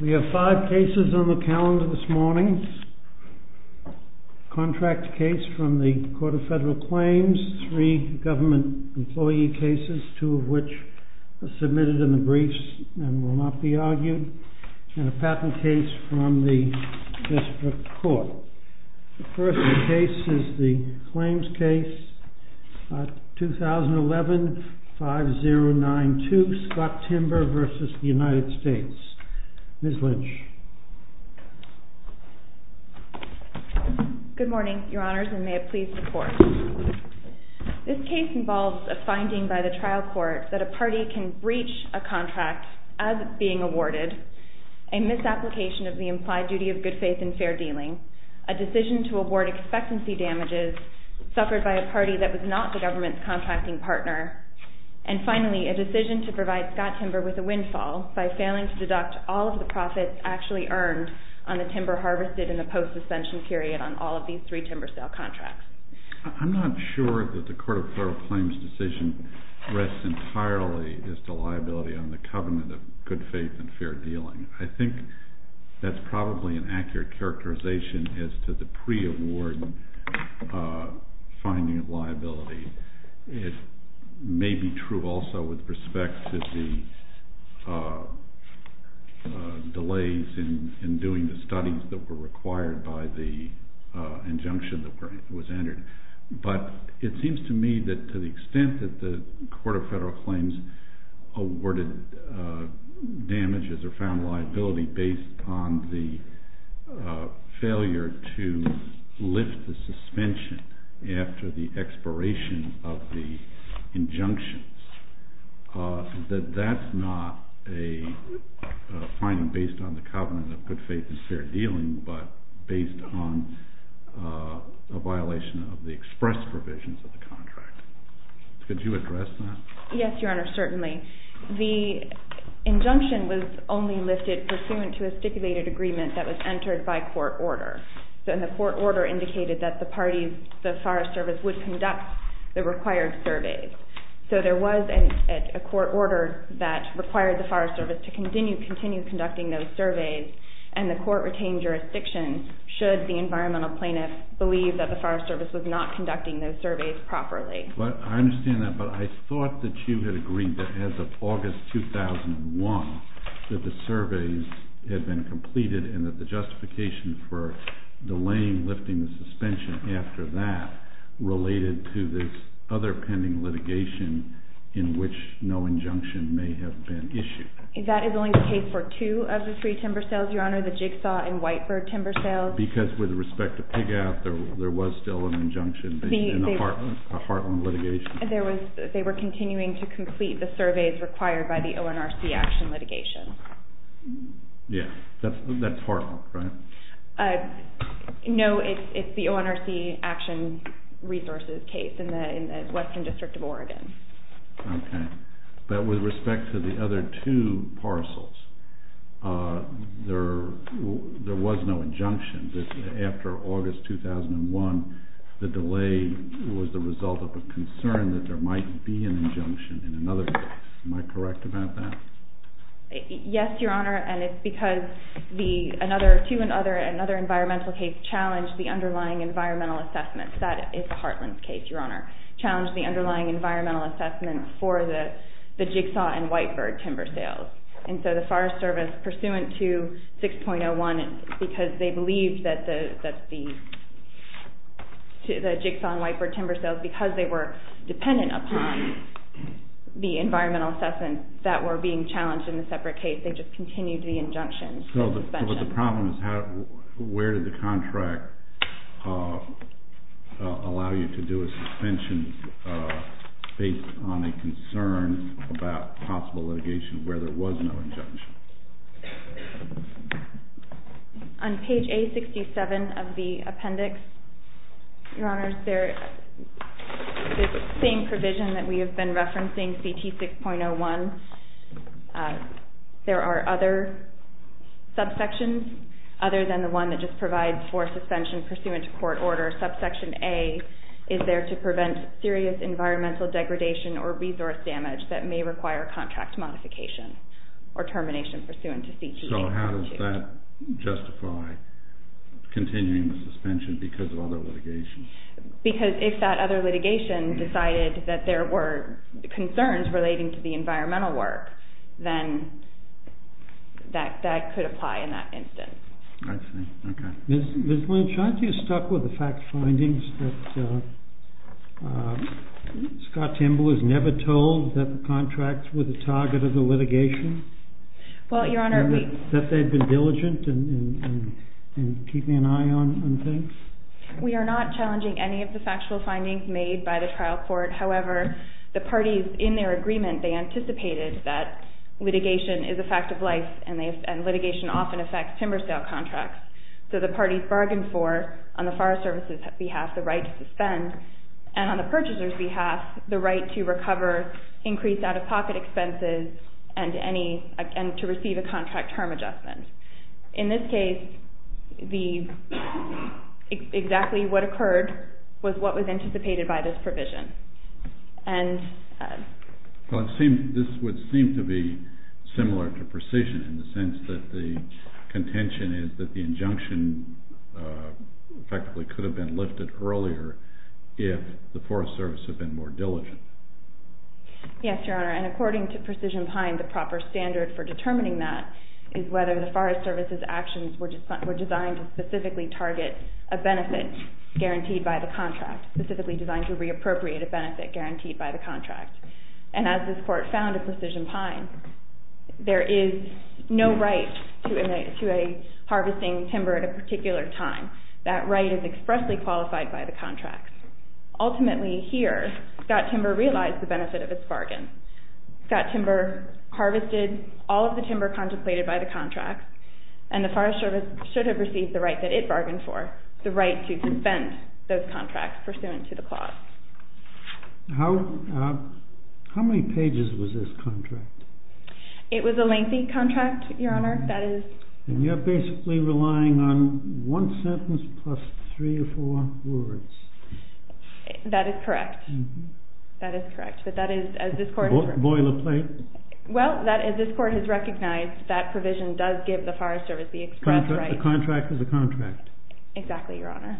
We have five cases on the calendar this morning. A contract case from the Court of Federal Claims, three government employee cases, two of which are submitted in the briefs and will not be argued, and a patent case from the District Court. The first case is the claims case 2011-5092, Scott Timber v. United States. Ms. Lynch. Good morning, Your Honors, and may it please the Court. This case involves a finding by the trial court that a party can breach a contract as being awarded, a misapplication of the implied duty of good faith and fair dealing, a decision to award expectancy damages, suffered by a party that was not the government's contracting partner, and finally, a decision to provide Scott Timber with a windfall by failing to deduct all of the profits actually earned on the timber harvested in the post-suspension period on all of these three timber sale contracts. I'm not sure that the Court of Federal Claims decision rests entirely as to liability on the covenant of good faith and fair dealing. I think that's probably an accurate characterization as to the pre-award finding of liability. It may be true also with respect to the delays in doing the studies that were required by the injunction that was entered, but it seems to me that to the extent that the Court of Federal Claims awarded damages or found liability based on the failure to lift the suspension after the expiration of the injunctions, that that's not a finding based on the covenant of good faith and fair dealing, but based on a violation of the express provisions of the contract. Could you address that? Yes, Your Honor, certainly. The injunction was only lifted pursuant to a stipulated agreement that was entered by court order, and the court order indicated that the forest service would conduct the required surveys. So there was a court order that required the forest service to continue conducting those surveys, and the court retained jurisdiction should the environmental plaintiff believe that the forest service was not conducting those surveys properly. I understand that, but I thought that you had agreed that as of August 2001 that the surveys had been completed and that the justification for delaying lifting the suspension after that related to this other pending litigation in which no injunction may have been issued. That is only the case for two of the three timber sales, Your Honor, the jigsaw and whitebird timber sales. Because with respect to pig out, there was still an injunction in the Heartland litigation. They were continuing to complete the surveys required by the ONRC action litigation. Yeah, that's Heartland, right? No, it's the ONRC action resources case in the Western District of Oregon. But with respect to the other two parcels, there was no injunction. After August 2001, the delay was the result of a concern that there might be an injunction in another case. Am I correct about that? Yes, Your Honor, and it's because another environmental case challenged the underlying environmental assessment. That is the Heartland case, Your Honor, challenged the underlying environmental assessment for the jigsaw and whitebird timber sales. And so the Forest Service, pursuant to 6.01, because they believed that the jigsaw and whitebird timber sales, because they were dependent upon the environmental assessment that were being challenged in the separate case, they just continued the injunction. So the problem is, where did the contract allow you to do a suspension based on a concern about possible litigation where there was no injunction? On page A67 of the appendix, Your Honor, the same provision that we have been referencing, CT 6.01, there are other subsections other than the one that just provides for suspension pursuant to court order. So how does that justify continuing the suspension because of other litigation? Because if that other litigation decided that there were concerns relating to the environmental work, then that could apply in that instance. Ms. Lynch, aren't you stuck with the fact findings that Scott Timber was never told that the contracts were the target of the litigation? Well, Your Honor, we... That they'd been diligent in keeping an eye on things? We are not challenging any of the factual findings made by the trial court. However, the parties in their agreement, they anticipated that litigation is a fact of life and litigation often affects timber sale contracts. So the parties bargained for, on the Forest Service's behalf, the right to suspend, and on the purchaser's behalf, the right to recover increased out-of-pocket expenses and to receive a contract term adjustment. In this case, exactly what occurred was what was anticipated by this provision. This would seem to be similar to precision in the sense that the contention is that the injunction effectively could have been lifted earlier if the Forest Service had been more diligent. Yes, Your Honor, and according to precision pine, the proper standard for determining that is whether the Forest Service's actions were designed to specifically target a benefit guaranteed by the contract, specifically designed to reappropriate a benefit guaranteed by the contract. And as this court found in precision pine, there is no right to a harvesting timber at a particular time. That right is expressly qualified by the contract. Ultimately, here, Scott Timber realized the benefit of its bargain. Scott Timber harvested all of the timber contemplated by the contract, and the Forest Service should have received the right that it bargained for, the right to suspend those contracts pursuant to the clause. How many pages was this contract? It was a lengthy contract, Your Honor. And you're basically relying on one sentence plus three or four words. That is correct. That is correct. Boilerplate? Well, as this court has recognized, that provision does give the Forest Service the express right. The contract is a contract. Exactly, Your Honor.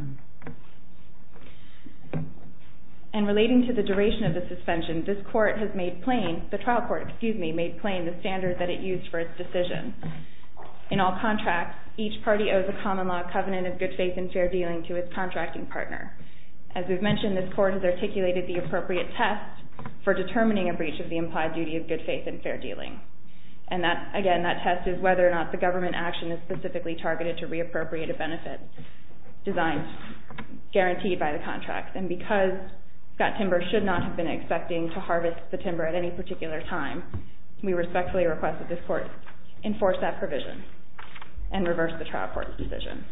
And relating to the duration of the suspension, this court has made plain, the trial court, excuse me, made plain the standard that it used for its decision. In all contracts, each party owes a common law covenant of good faith and fair dealing to its contracting partner. As we've mentioned, this court has articulated the appropriate test for determining a breach of the implied duty of good faith and fair dealing. And that, again, that test is whether or not the government action is specifically targeted to reappropriate a benefit designed, guaranteed by the contract. And because Scott Timber should not have been expecting to harvest the timber at any particular time, we respectfully request that this court enforce that provision and reverse the trial court's decision.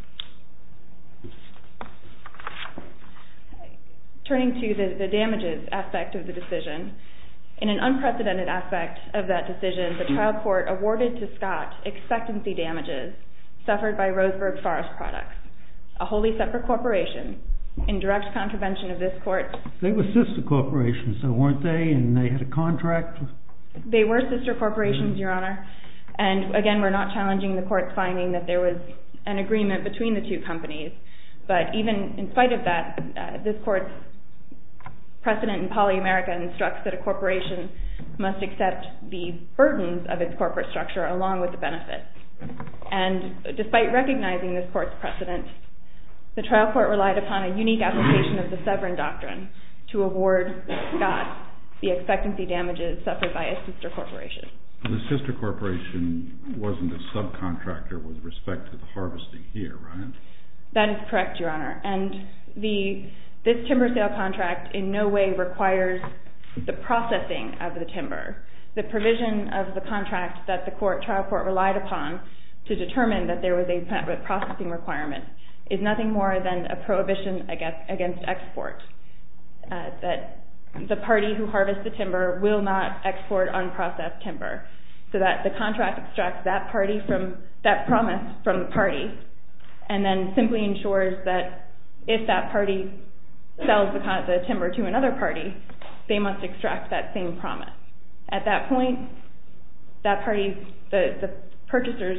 Turning to the damages aspect of the decision, in an unprecedented aspect of that decision, the trial court awarded to Scott expectancy damages suffered by Roseburg Forest Products, a wholly separate corporation, in direct contravention of this court. They were sister corporations, though, weren't they? And they had a contract? They were sister corporations, Your Honor. And again, we're not challenging the court's finding that there was an agreement between the two companies. But even in spite of that, this court's precedent in poly-America instructs that a corporation must accept the burdens of its corporate structure along with the benefits. And despite recognizing this court's precedent, the trial court relied upon a unique application of the Severn Doctrine to award Scott the expectancy damages suffered by a sister corporation. The sister corporation wasn't a subcontractor with respect to the harvesting here, right? That is correct, Your Honor. And this timber sale contract in no way requires the processing of the timber. The provision of the contract that the trial court relied upon to determine that there was a processing requirement is nothing more than a prohibition against export. That the party who harvests the timber will not export unprocessed timber. So that the contract extracts that promise from the party and then simply ensures that if that party sells the timber to another party, they must extract that same promise. At that point, the purchaser's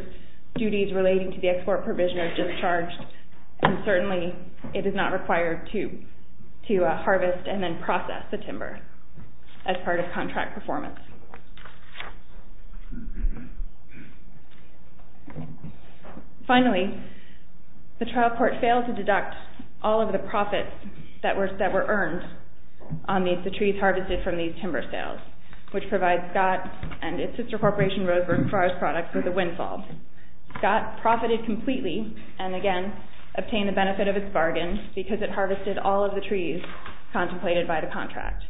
duties relating to the export provision are discharged and certainly it is not required to. To harvest and then process the timber as part of contract performance. Finally, the trial court failed to deduct all of the profits that were earned on the trees harvested from these timber sales, which provides Scott and its sister corporation, Roseburg, for its products with a windfall. Scott profited completely and again obtained the benefit of its bargain because it harvested all of the trees contemplated by the contract.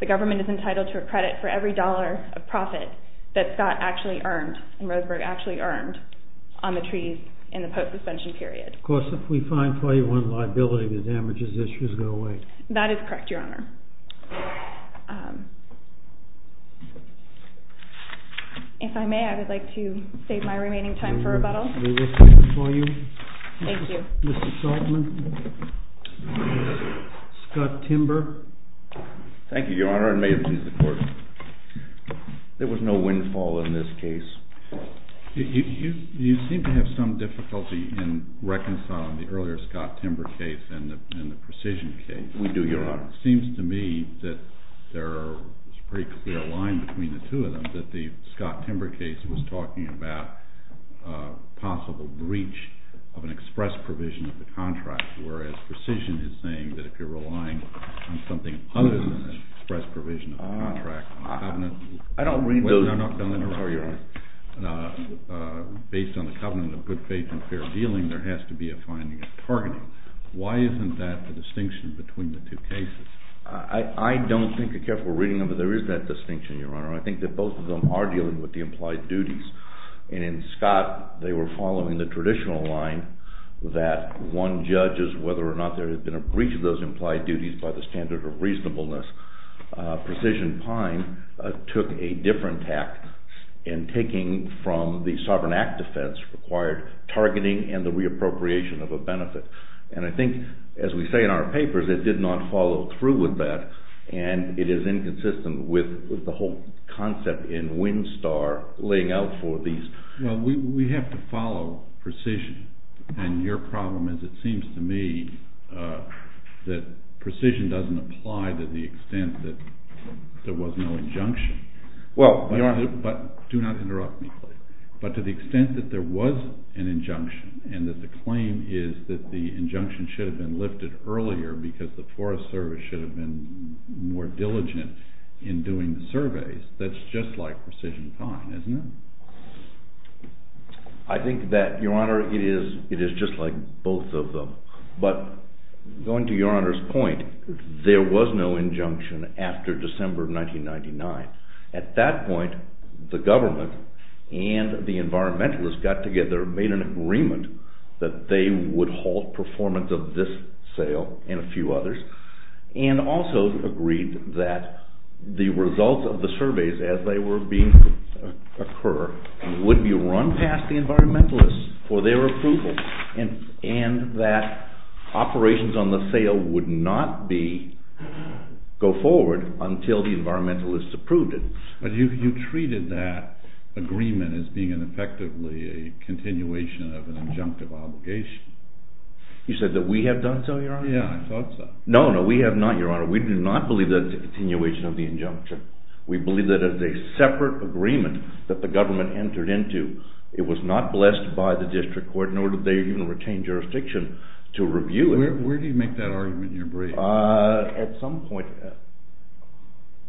The government is entitled to a credit for every dollar of profit that Scott actually earned and Roseburg actually earned on the trees in the post suspension period. Of course, if we find 21 liability, the damages issues go away. That is correct, Your Honor. If I may, I would like to save my remaining time for rebuttal. Thank you. Mr. Saltman. Scott Timber. Thank you, Your Honor. May it please the court. There was no windfall in this case. You seem to have some difficulty in reconciling the earlier Scott Timber case and the precision case. We do, Your Honor. It seems to me that there is a pretty clear line between the two of them, that the Scott Timber case was talking about possible breach of an express provision of the contract, whereas precision is saying that if you're relying on something other than an express provision of the contract, based on the covenant of good faith and fair dealing, there has to be a finding of targeting. Why isn't that the distinction between the two cases? I don't think—I guess we're reading them—but there is that distinction, Your Honor. I think that both of them are dealing with the implied duties. And in Scott, they were following the traditional line that one judges whether or not there has been a breach of those implied duties by the standard of reasonableness. Precision Pine took a different tact in taking from the Sovereign Act defense required targeting and the reappropriation of a benefit. And I think, as we say in our papers, it did not follow through with that, and it is inconsistent with the whole concept in Windstar laying out for these— To the extent that there was no injunction. Well, Your Honor— Do not interrupt me, please. But to the extent that there was an injunction and that the claim is that the injunction should have been lifted earlier because the Forest Service should have been more diligent in doing the surveys, that's just like Precision Pine, isn't it? I think that, Your Honor, it is just like both of them. But going to Your Honor's point, there was no injunction after December of 1999. At that point, the government and the environmentalists got together, made an agreement that they would halt performance of this sale and a few others, and also agreed that the results of the surveys as they were being— But you treated that agreement as being effectively a continuation of an injunctive obligation. You said that we have done so, Your Honor? Yeah, I thought so. No, no, we have not, Your Honor. We do not believe that it's a continuation of the injunction. We believe that it's a separate agreement that the government entered into. It was not blessed by the district court, nor did they even retain jurisdiction to review it. Where do you make that argument in your brief? At some point.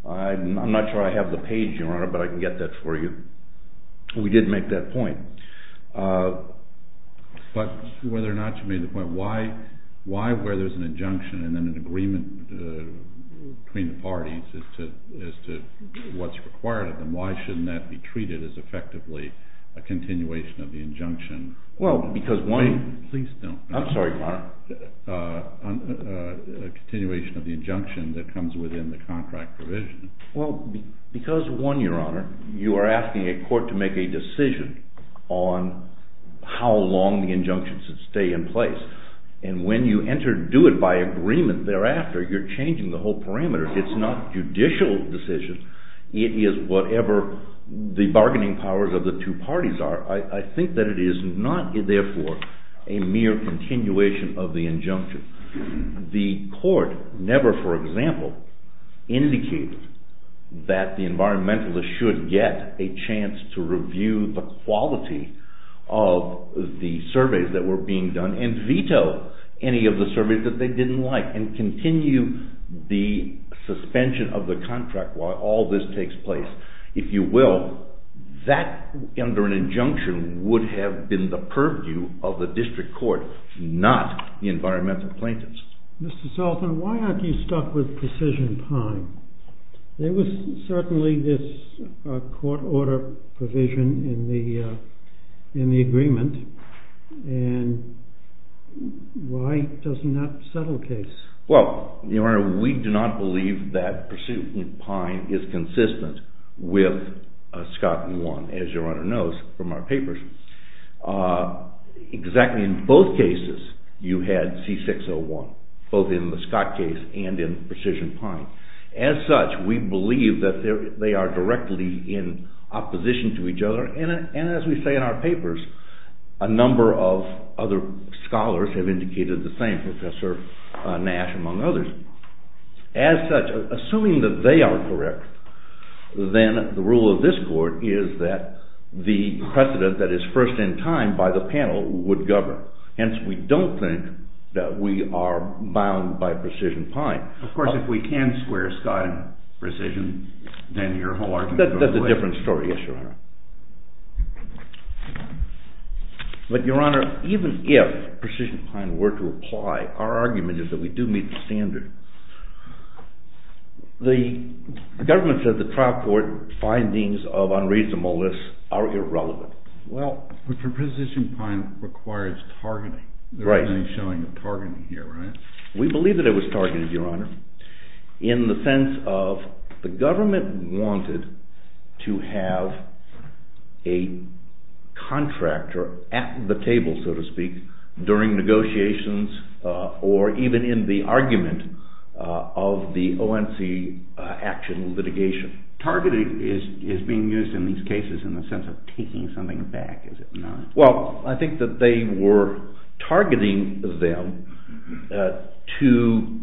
I'm not sure I have the page, Your Honor, but I can get that for you. We did make that point. But whether or not you made the point, why where there's an injunction and then an agreement between the parties as to what's required of them, why shouldn't that be treated as effectively a continuation of the injunction? Well, because one— Please don't. I'm sorry, Your Honor. A continuation of the injunction that comes within the contract provision. Well, because one, Your Honor, you are asking a court to make a decision on how long the injunction should stay in place. And when you do it by agreement thereafter, you're changing the whole parameter. It's not judicial decision. It is whatever the bargaining powers of the two parties are. I think that it is not, therefore, a mere continuation of the injunction. The court never, for example, indicated that the environmentalists should get a chance to review the quality of the surveys that were being done and veto any of the surveys that they didn't like and continue the suspension of the contract while all this takes place. If you will, that under an injunction would have been the purview of the district court, not the environmental plaintiffs. Mr. Sultan, why aren't you stuck with precision pine? There was certainly this court order provision in the agreement, and why does it not settle the case? Well, Your Honor, we do not believe that precision pine is consistent with SCOT 1, as Your Honor knows from our papers. Exactly in both cases you had C601, both in the SCOT case and in precision pine. As such, we believe that they are directly in opposition to each other, and as we say in our papers, a number of other scholars have indicated the same, Professor Nash among others. As such, assuming that they are correct, then the rule of this court is that the precedent that is first in time by the panel would govern. Hence, we don't think that we are bound by precision pine. Of course, if we can square SCOT in precision, then your whole argument goes away. That's a different story, yes, Your Honor. But, Your Honor, even if precision pine were to apply, our argument is that we do meet the standard. The government says the trial court findings of unreasonableness are irrelevant. Well, precision pine requires targeting. There is no showing of targeting here, right? We believe that it was targeted, Your Honor, in the sense of the government wanted to have a contractor at the table, so to speak, during negotiations or even in the argument of the ONC action litigation. Targeting is being used in these cases in the sense of taking something back, is it not? Well, I think that they were targeting them to,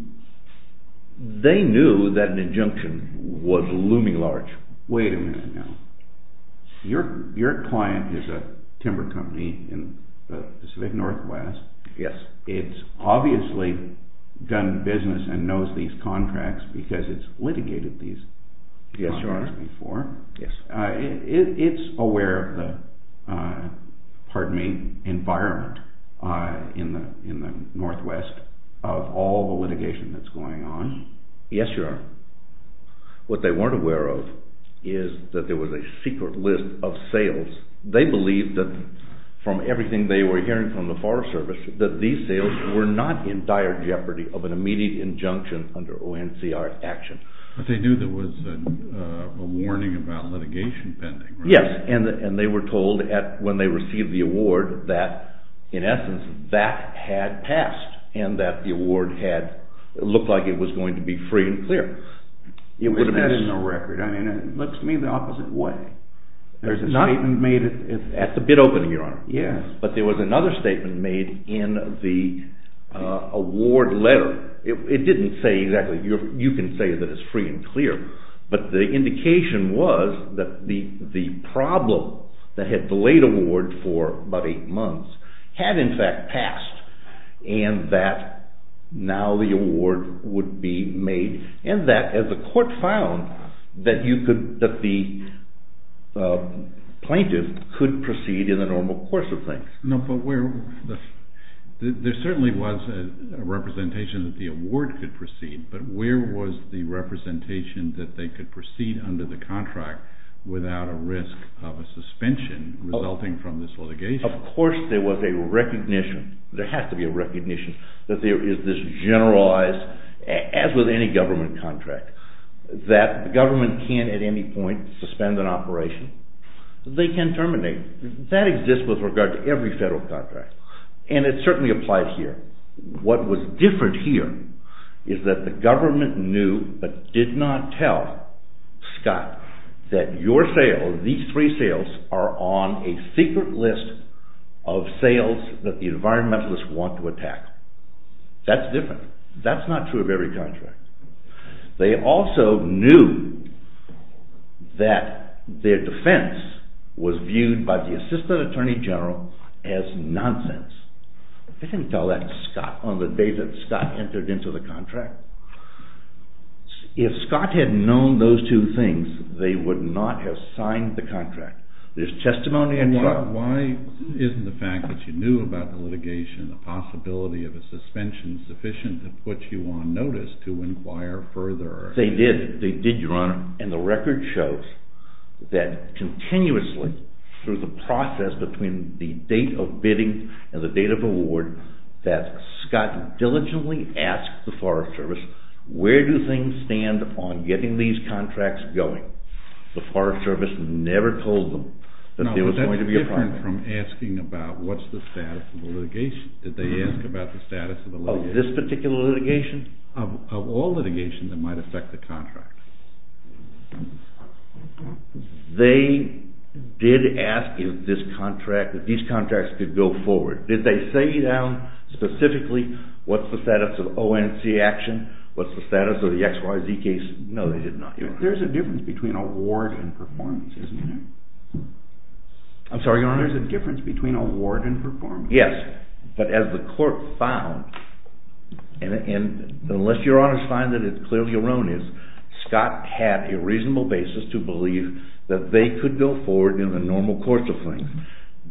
they knew that an injunction was looming large. Wait a minute now. Your client is a timber company in the Pacific Northwest. Yes. It's obviously done business and knows these contracts because it's litigated these contracts before. Yes, Your Honor. Yes. It's aware of the, pardon me, environment in the Northwest of all the litigation that's going on. Yes, Your Honor. What they weren't aware of is that there was a secret list of sales. They believed that from everything they were hearing from the Forest Service that these sales were not in dire jeopardy of an immediate injunction under ONCR action. But they knew there was a warning about litigation pending, right? Isn't that in the record? I mean, it looks to me the opposite way. There's a statement made at the bid opening, Your Honor. Yes. But there was another statement made in the award letter. It didn't say exactly. You can say that it's free and clear. But the indication was that the problem that had delayed award for about eight months had in fact passed and that now the award would be made and that as the court found that the plaintiff could proceed in the normal course of things. No, but there certainly was a representation that the award could proceed, but where was the representation that they could proceed under the contract without a risk of a suspension resulting from this litigation? Of course there was a recognition. There has to be a recognition that there is this generalized, as with any government contract, that the government can at any point suspend an operation. They can terminate. That exists with regard to every federal contract. And it certainly applied here. What was different here is that the government knew but did not tell Scott that your sale, these three sales, are on a secret list of sales that the environmentalists want to attack. That's different. That's not true of every contract. They also knew that their defense was viewed by the assistant attorney general as nonsense. They didn't tell that to Scott on the day that Scott entered into the contract. If Scott had known those two things, they would not have signed the contract. Why isn't the fact that you knew about the litigation a possibility of a suspension sufficient to put you on notice to inquire further? They did. They did, Your Honor. And the record shows that continuously, through the process between the date of bidding and the date of award, that Scott diligently asked the Forest Service, where do things stand on getting these contracts going? But the Forest Service never told them that there was going to be a problem. No, but that's different from asking about what's the status of the litigation. Did they ask about the status of the litigation? Of this particular litigation? Of all litigations that might affect the contract. They did ask if these contracts could go forward. Did they say down specifically what's the status of ONC action, what's the status of the XYZ case? No, they did not, Your Honor. But there's a difference between award and performance, isn't there? I'm sorry, Your Honor? There's a difference between award and performance. Yes, but as the court found, and unless Your Honor's finding it clearly erroneous, Scott had a reasonable basis to believe that they could go forward in a normal course of things.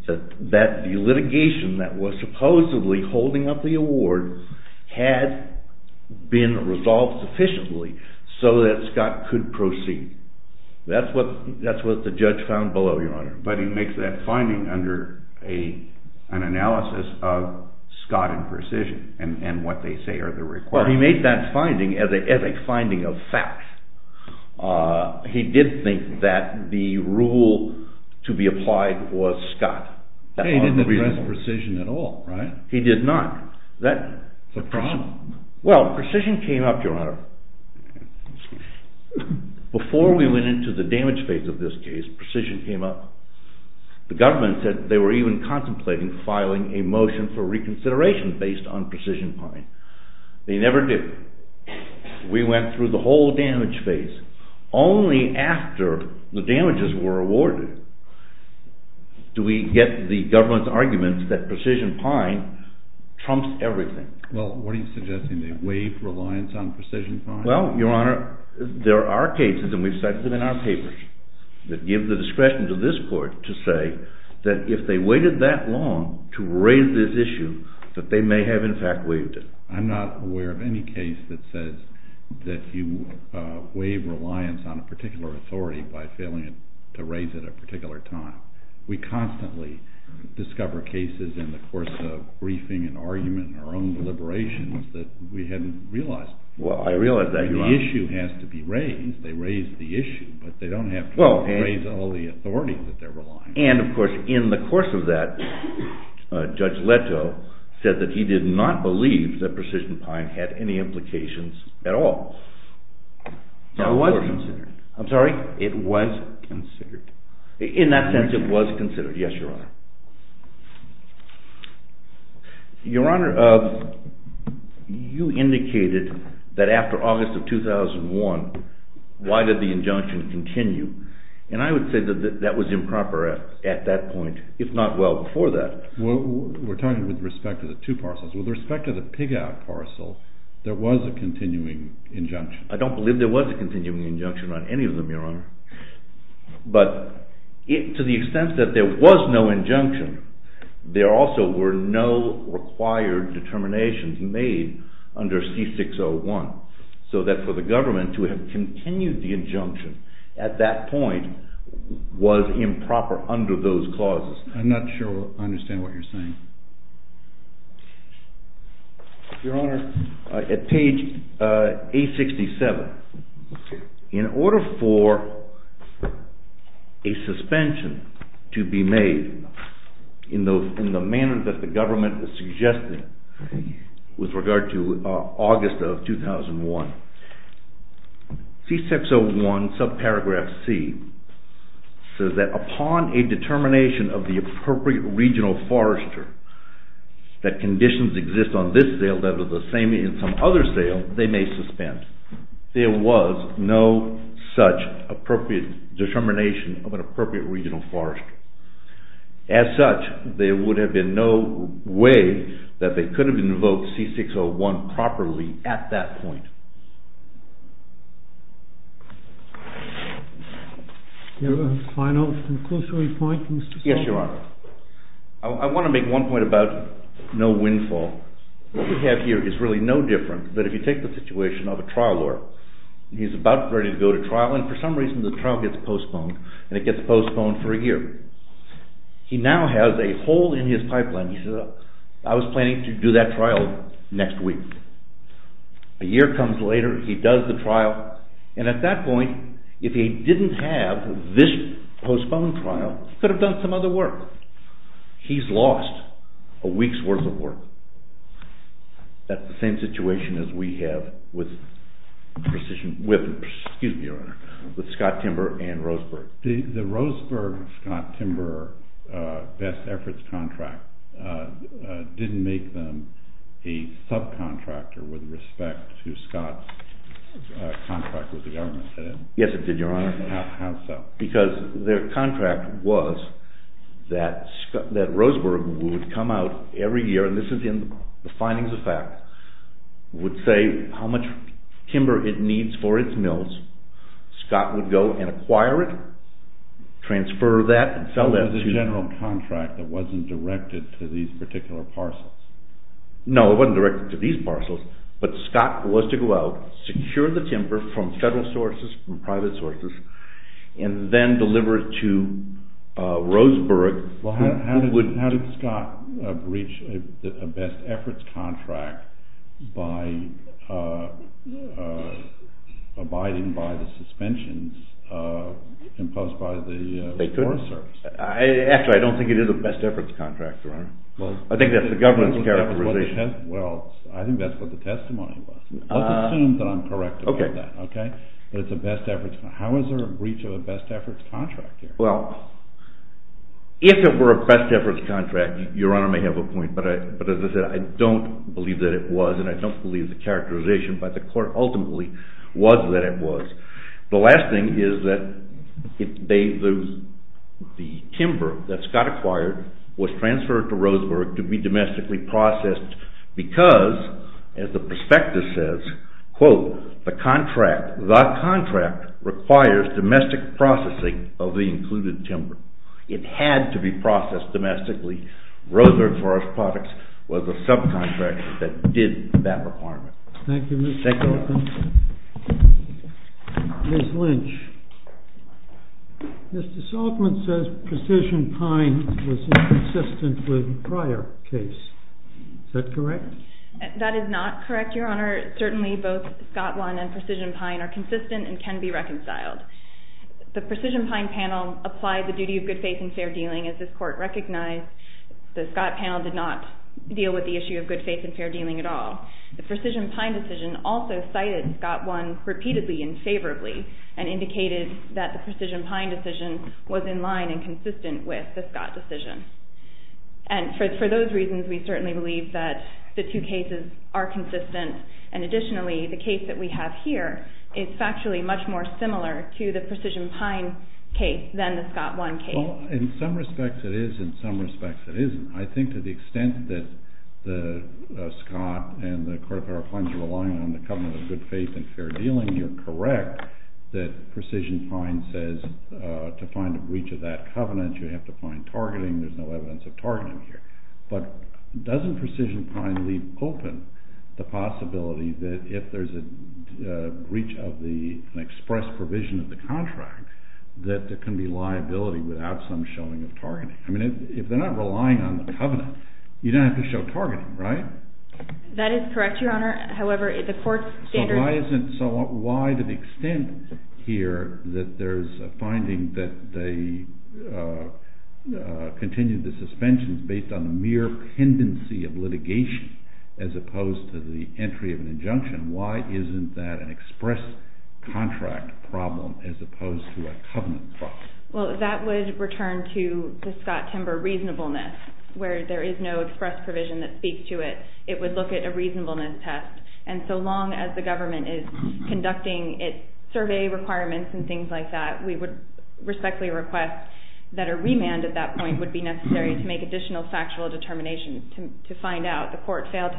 That the litigation that was supposedly holding up the award had been resolved sufficiently so that Scott could proceed. That's what the judge found below, Your Honor. But he makes that finding under an analysis of Scott in precision and what they say are the requirements. Now, he made that finding as a finding of fact. He did think that the rule to be applied was Scott. He didn't address precision at all, right? He did not. That's a problem. Well, precision came up, Your Honor. Before we went into the damage phase of this case, precision came up. The government said they were even contemplating filing a motion for reconsideration based on precision point. They never did. We went through the whole damage phase. Only after the damages were awarded do we get the government's argument that precision pine trumps everything. Well, what are you suggesting? They waived reliance on precision pine? Well, Your Honor, there are cases, and we've cited them in our papers, that give the discretion to this court to say that if they waited that long to raise this issue, that they may have in fact waived it. I'm not aware of any case that says that you waive reliance on a particular authority by failing to raise it at a particular time. We constantly discover cases in the course of briefing and argument in our own deliberations that we hadn't realized. Well, I realize that, Your Honor. The issue has to be raised. They raised the issue, but they don't have to raise all the authority that they're relying on. And, of course, in the course of that, Judge Leto said that he did not believe that precision pine had any implications at all. It was considered. I'm sorry? It was considered. In that sense, it was considered. Yes, Your Honor. Your Honor, you indicated that after August of 2001, why did the injunction continue? And I would say that that was improper at that point, if not well before that. We're talking with respect to the two parcels. With respect to the pig-out parcel, there was a continuing injunction. I don't believe there was a continuing injunction on any of them, Your Honor. But to the extent that there was no injunction, there also were no required determinations made under C-601, so that for the government to have continued the injunction at that point was improper under those clauses. I'm not sure I understand what you're saying. Your Honor, at page 867, in order for a suspension to be made in the manner that the government suggested with regard to August of 2001, C-601, subparagraph C, says that upon a determination of the appropriate regional forester that conditions exist on this sale that are the same in some other sale, they may suspend. There was no such appropriate determination of an appropriate regional forester. As such, there would have been no way that they could have invoked C-601 properly at that point. Do you have a final conclusory point, Mr. Stone? Yes, Your Honor. I want to make one point about no windfall. What we have here is really no different, but if you take the situation of a trial lawyer, he's about ready to go to trial, and for some reason the trial gets postponed, and it gets postponed for a year. He now has a hole in his pipeline. He says, I was planning to do that trial next week. A year comes later, he does the trial, and at that point, if he didn't have this postponed trial, he could have done some other work. He's lost a week's worth of work. That's the same situation as we have with Scott Timber and Roseburg. The Roseburg-Scott Timber best efforts contract didn't make them a subcontractor with respect to Scott's contract with the government, did it? Yes, it did, Your Honor. How so? Because their contract was that Roseburg would come out every year, and this is in the findings of fact, would say how much timber it needs for its mills. Scott would go and acquire it, transfer that, and sell that. So it was a general contract that wasn't directed to these particular parcels. No, it wasn't directed to these parcels, but Scott was to go out, secure the timber from federal sources, from private sources, and then deliver it to Roseburg. Well, how did Scott breach a best efforts contract by abiding by the suspensions imposed by the Forest Service? Actually, I don't think it is a best efforts contract, Your Honor. I think that's the government's characterization. Well, I think that's what the testimony was. Let's assume that I'm correct about that, okay? But it's a best efforts contract. How is there a breach of a best efforts contract here? Well, if it were a best efforts contract, Your Honor may have a point, but as I said, I don't believe that it was, and I don't believe the characterization by the court ultimately was that it was. The last thing is that the timber that Scott acquired was transferred to Roseburg to be domestically processed because, as the prospectus says, quote, the contract requires domestic processing of the included timber. It had to be processed domestically. Roseburg Forest Products was the subcontractor that did that requirement. Thank you, Mr. Hoffman. Thank you, Your Honor. Ms. Lynch, Mr. Hoffman says precision pine was inconsistent with prior case. Is that correct? That is not correct, Your Honor. Certainly both Scott One and precision pine are consistent and can be reconciled. The precision pine panel applied the duty of good faith and fair dealing, as this court recognized. The Scott panel did not deal with the issue of good faith and fair dealing at all. The precision pine decision also cited Scott One repeatedly and favorably and indicated that the precision pine decision was in line and consistent with the Scott decision. For those reasons, we certainly believe that the two cases are consistent. Additionally, the case that we have here is factually much more similar to the precision pine case than the Scott One case. In some respects, it is. In some respects, it isn't. I think to the extent that Scott and the Court of Federal Claims are relying on the covenant of good faith and fair dealing, you're correct that precision pine says to find a breach of that covenant, you have to find targeting. There's no evidence of targeting here. But doesn't precision pine leave open the possibility that if there's a breach of the express provision of the contract, that there can be liability without some showing of targeting? I mean, if they're not relying on the covenant, you don't have to show targeting, right? That is correct, Your Honor. So why to the extent here that there's a finding that they continue the suspensions based on the mere pendency of litigation as opposed to the entry of an injunction, why isn't that an express contract problem as opposed to a covenant problem? Well, that would return to the Scott-Timber reasonableness, where there is no express provision that speaks to it. It would look at a reasonableness test. And so long as the government is conducting its survey requirements and things like that, we would respectfully request that a remand at that point would be necessary to make additional factual determinations to find out the trial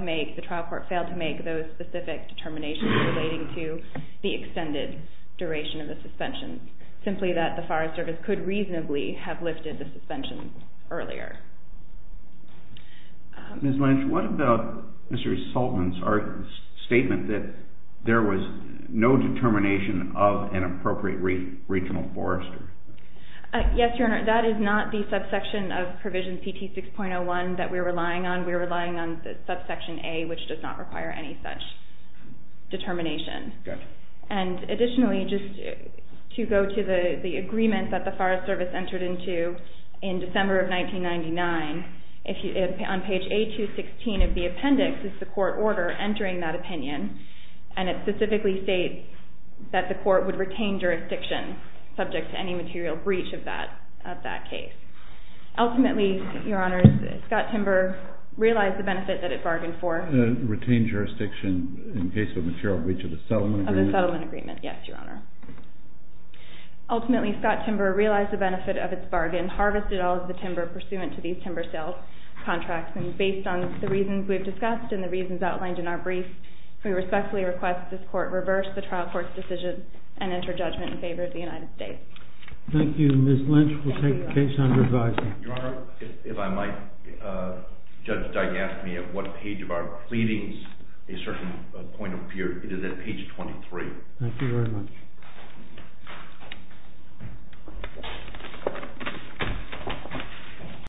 court failed to make those specific determinations relating to the extended duration of the suspension, simply that the Forest Service could reasonably have lifted the suspension earlier. Ms. Lynch, what about Mr. Soltman's statement that there was no determination of an appropriate regional forester? Yes, Your Honor, that is not the subsection of Provision CT 6.01 that we're relying on. We're relying on subsection A, which does not require any such determination. Good. And additionally, just to go to the agreement that the Forest Service entered into in December of 1999, on page A216 of the appendix is the court order entering that opinion, and it specifically states that the court would retain jurisdiction subject to any material breach of that case. Ultimately, Your Honor, Scott-Timber realized the benefit that it bargained for. Retained jurisdiction in case of a material breach of the settlement agreement? Of the settlement agreement, yes, Your Honor. Ultimately, Scott-Timber realized the benefit of its bargain, harvested all of the timber pursuant to these timber sales contracts, and based on the reasons we've discussed and the reasons outlined in our brief, we respectfully request this court reverse the trial court's decision and enter judgment in favor of the United States. Thank you. Ms. Lynch will take the case under revising. Your Honor, if I might, Judge Dygan asked me at what page of our pleadings a certain point appeared. It is at page 23. Thank you very much.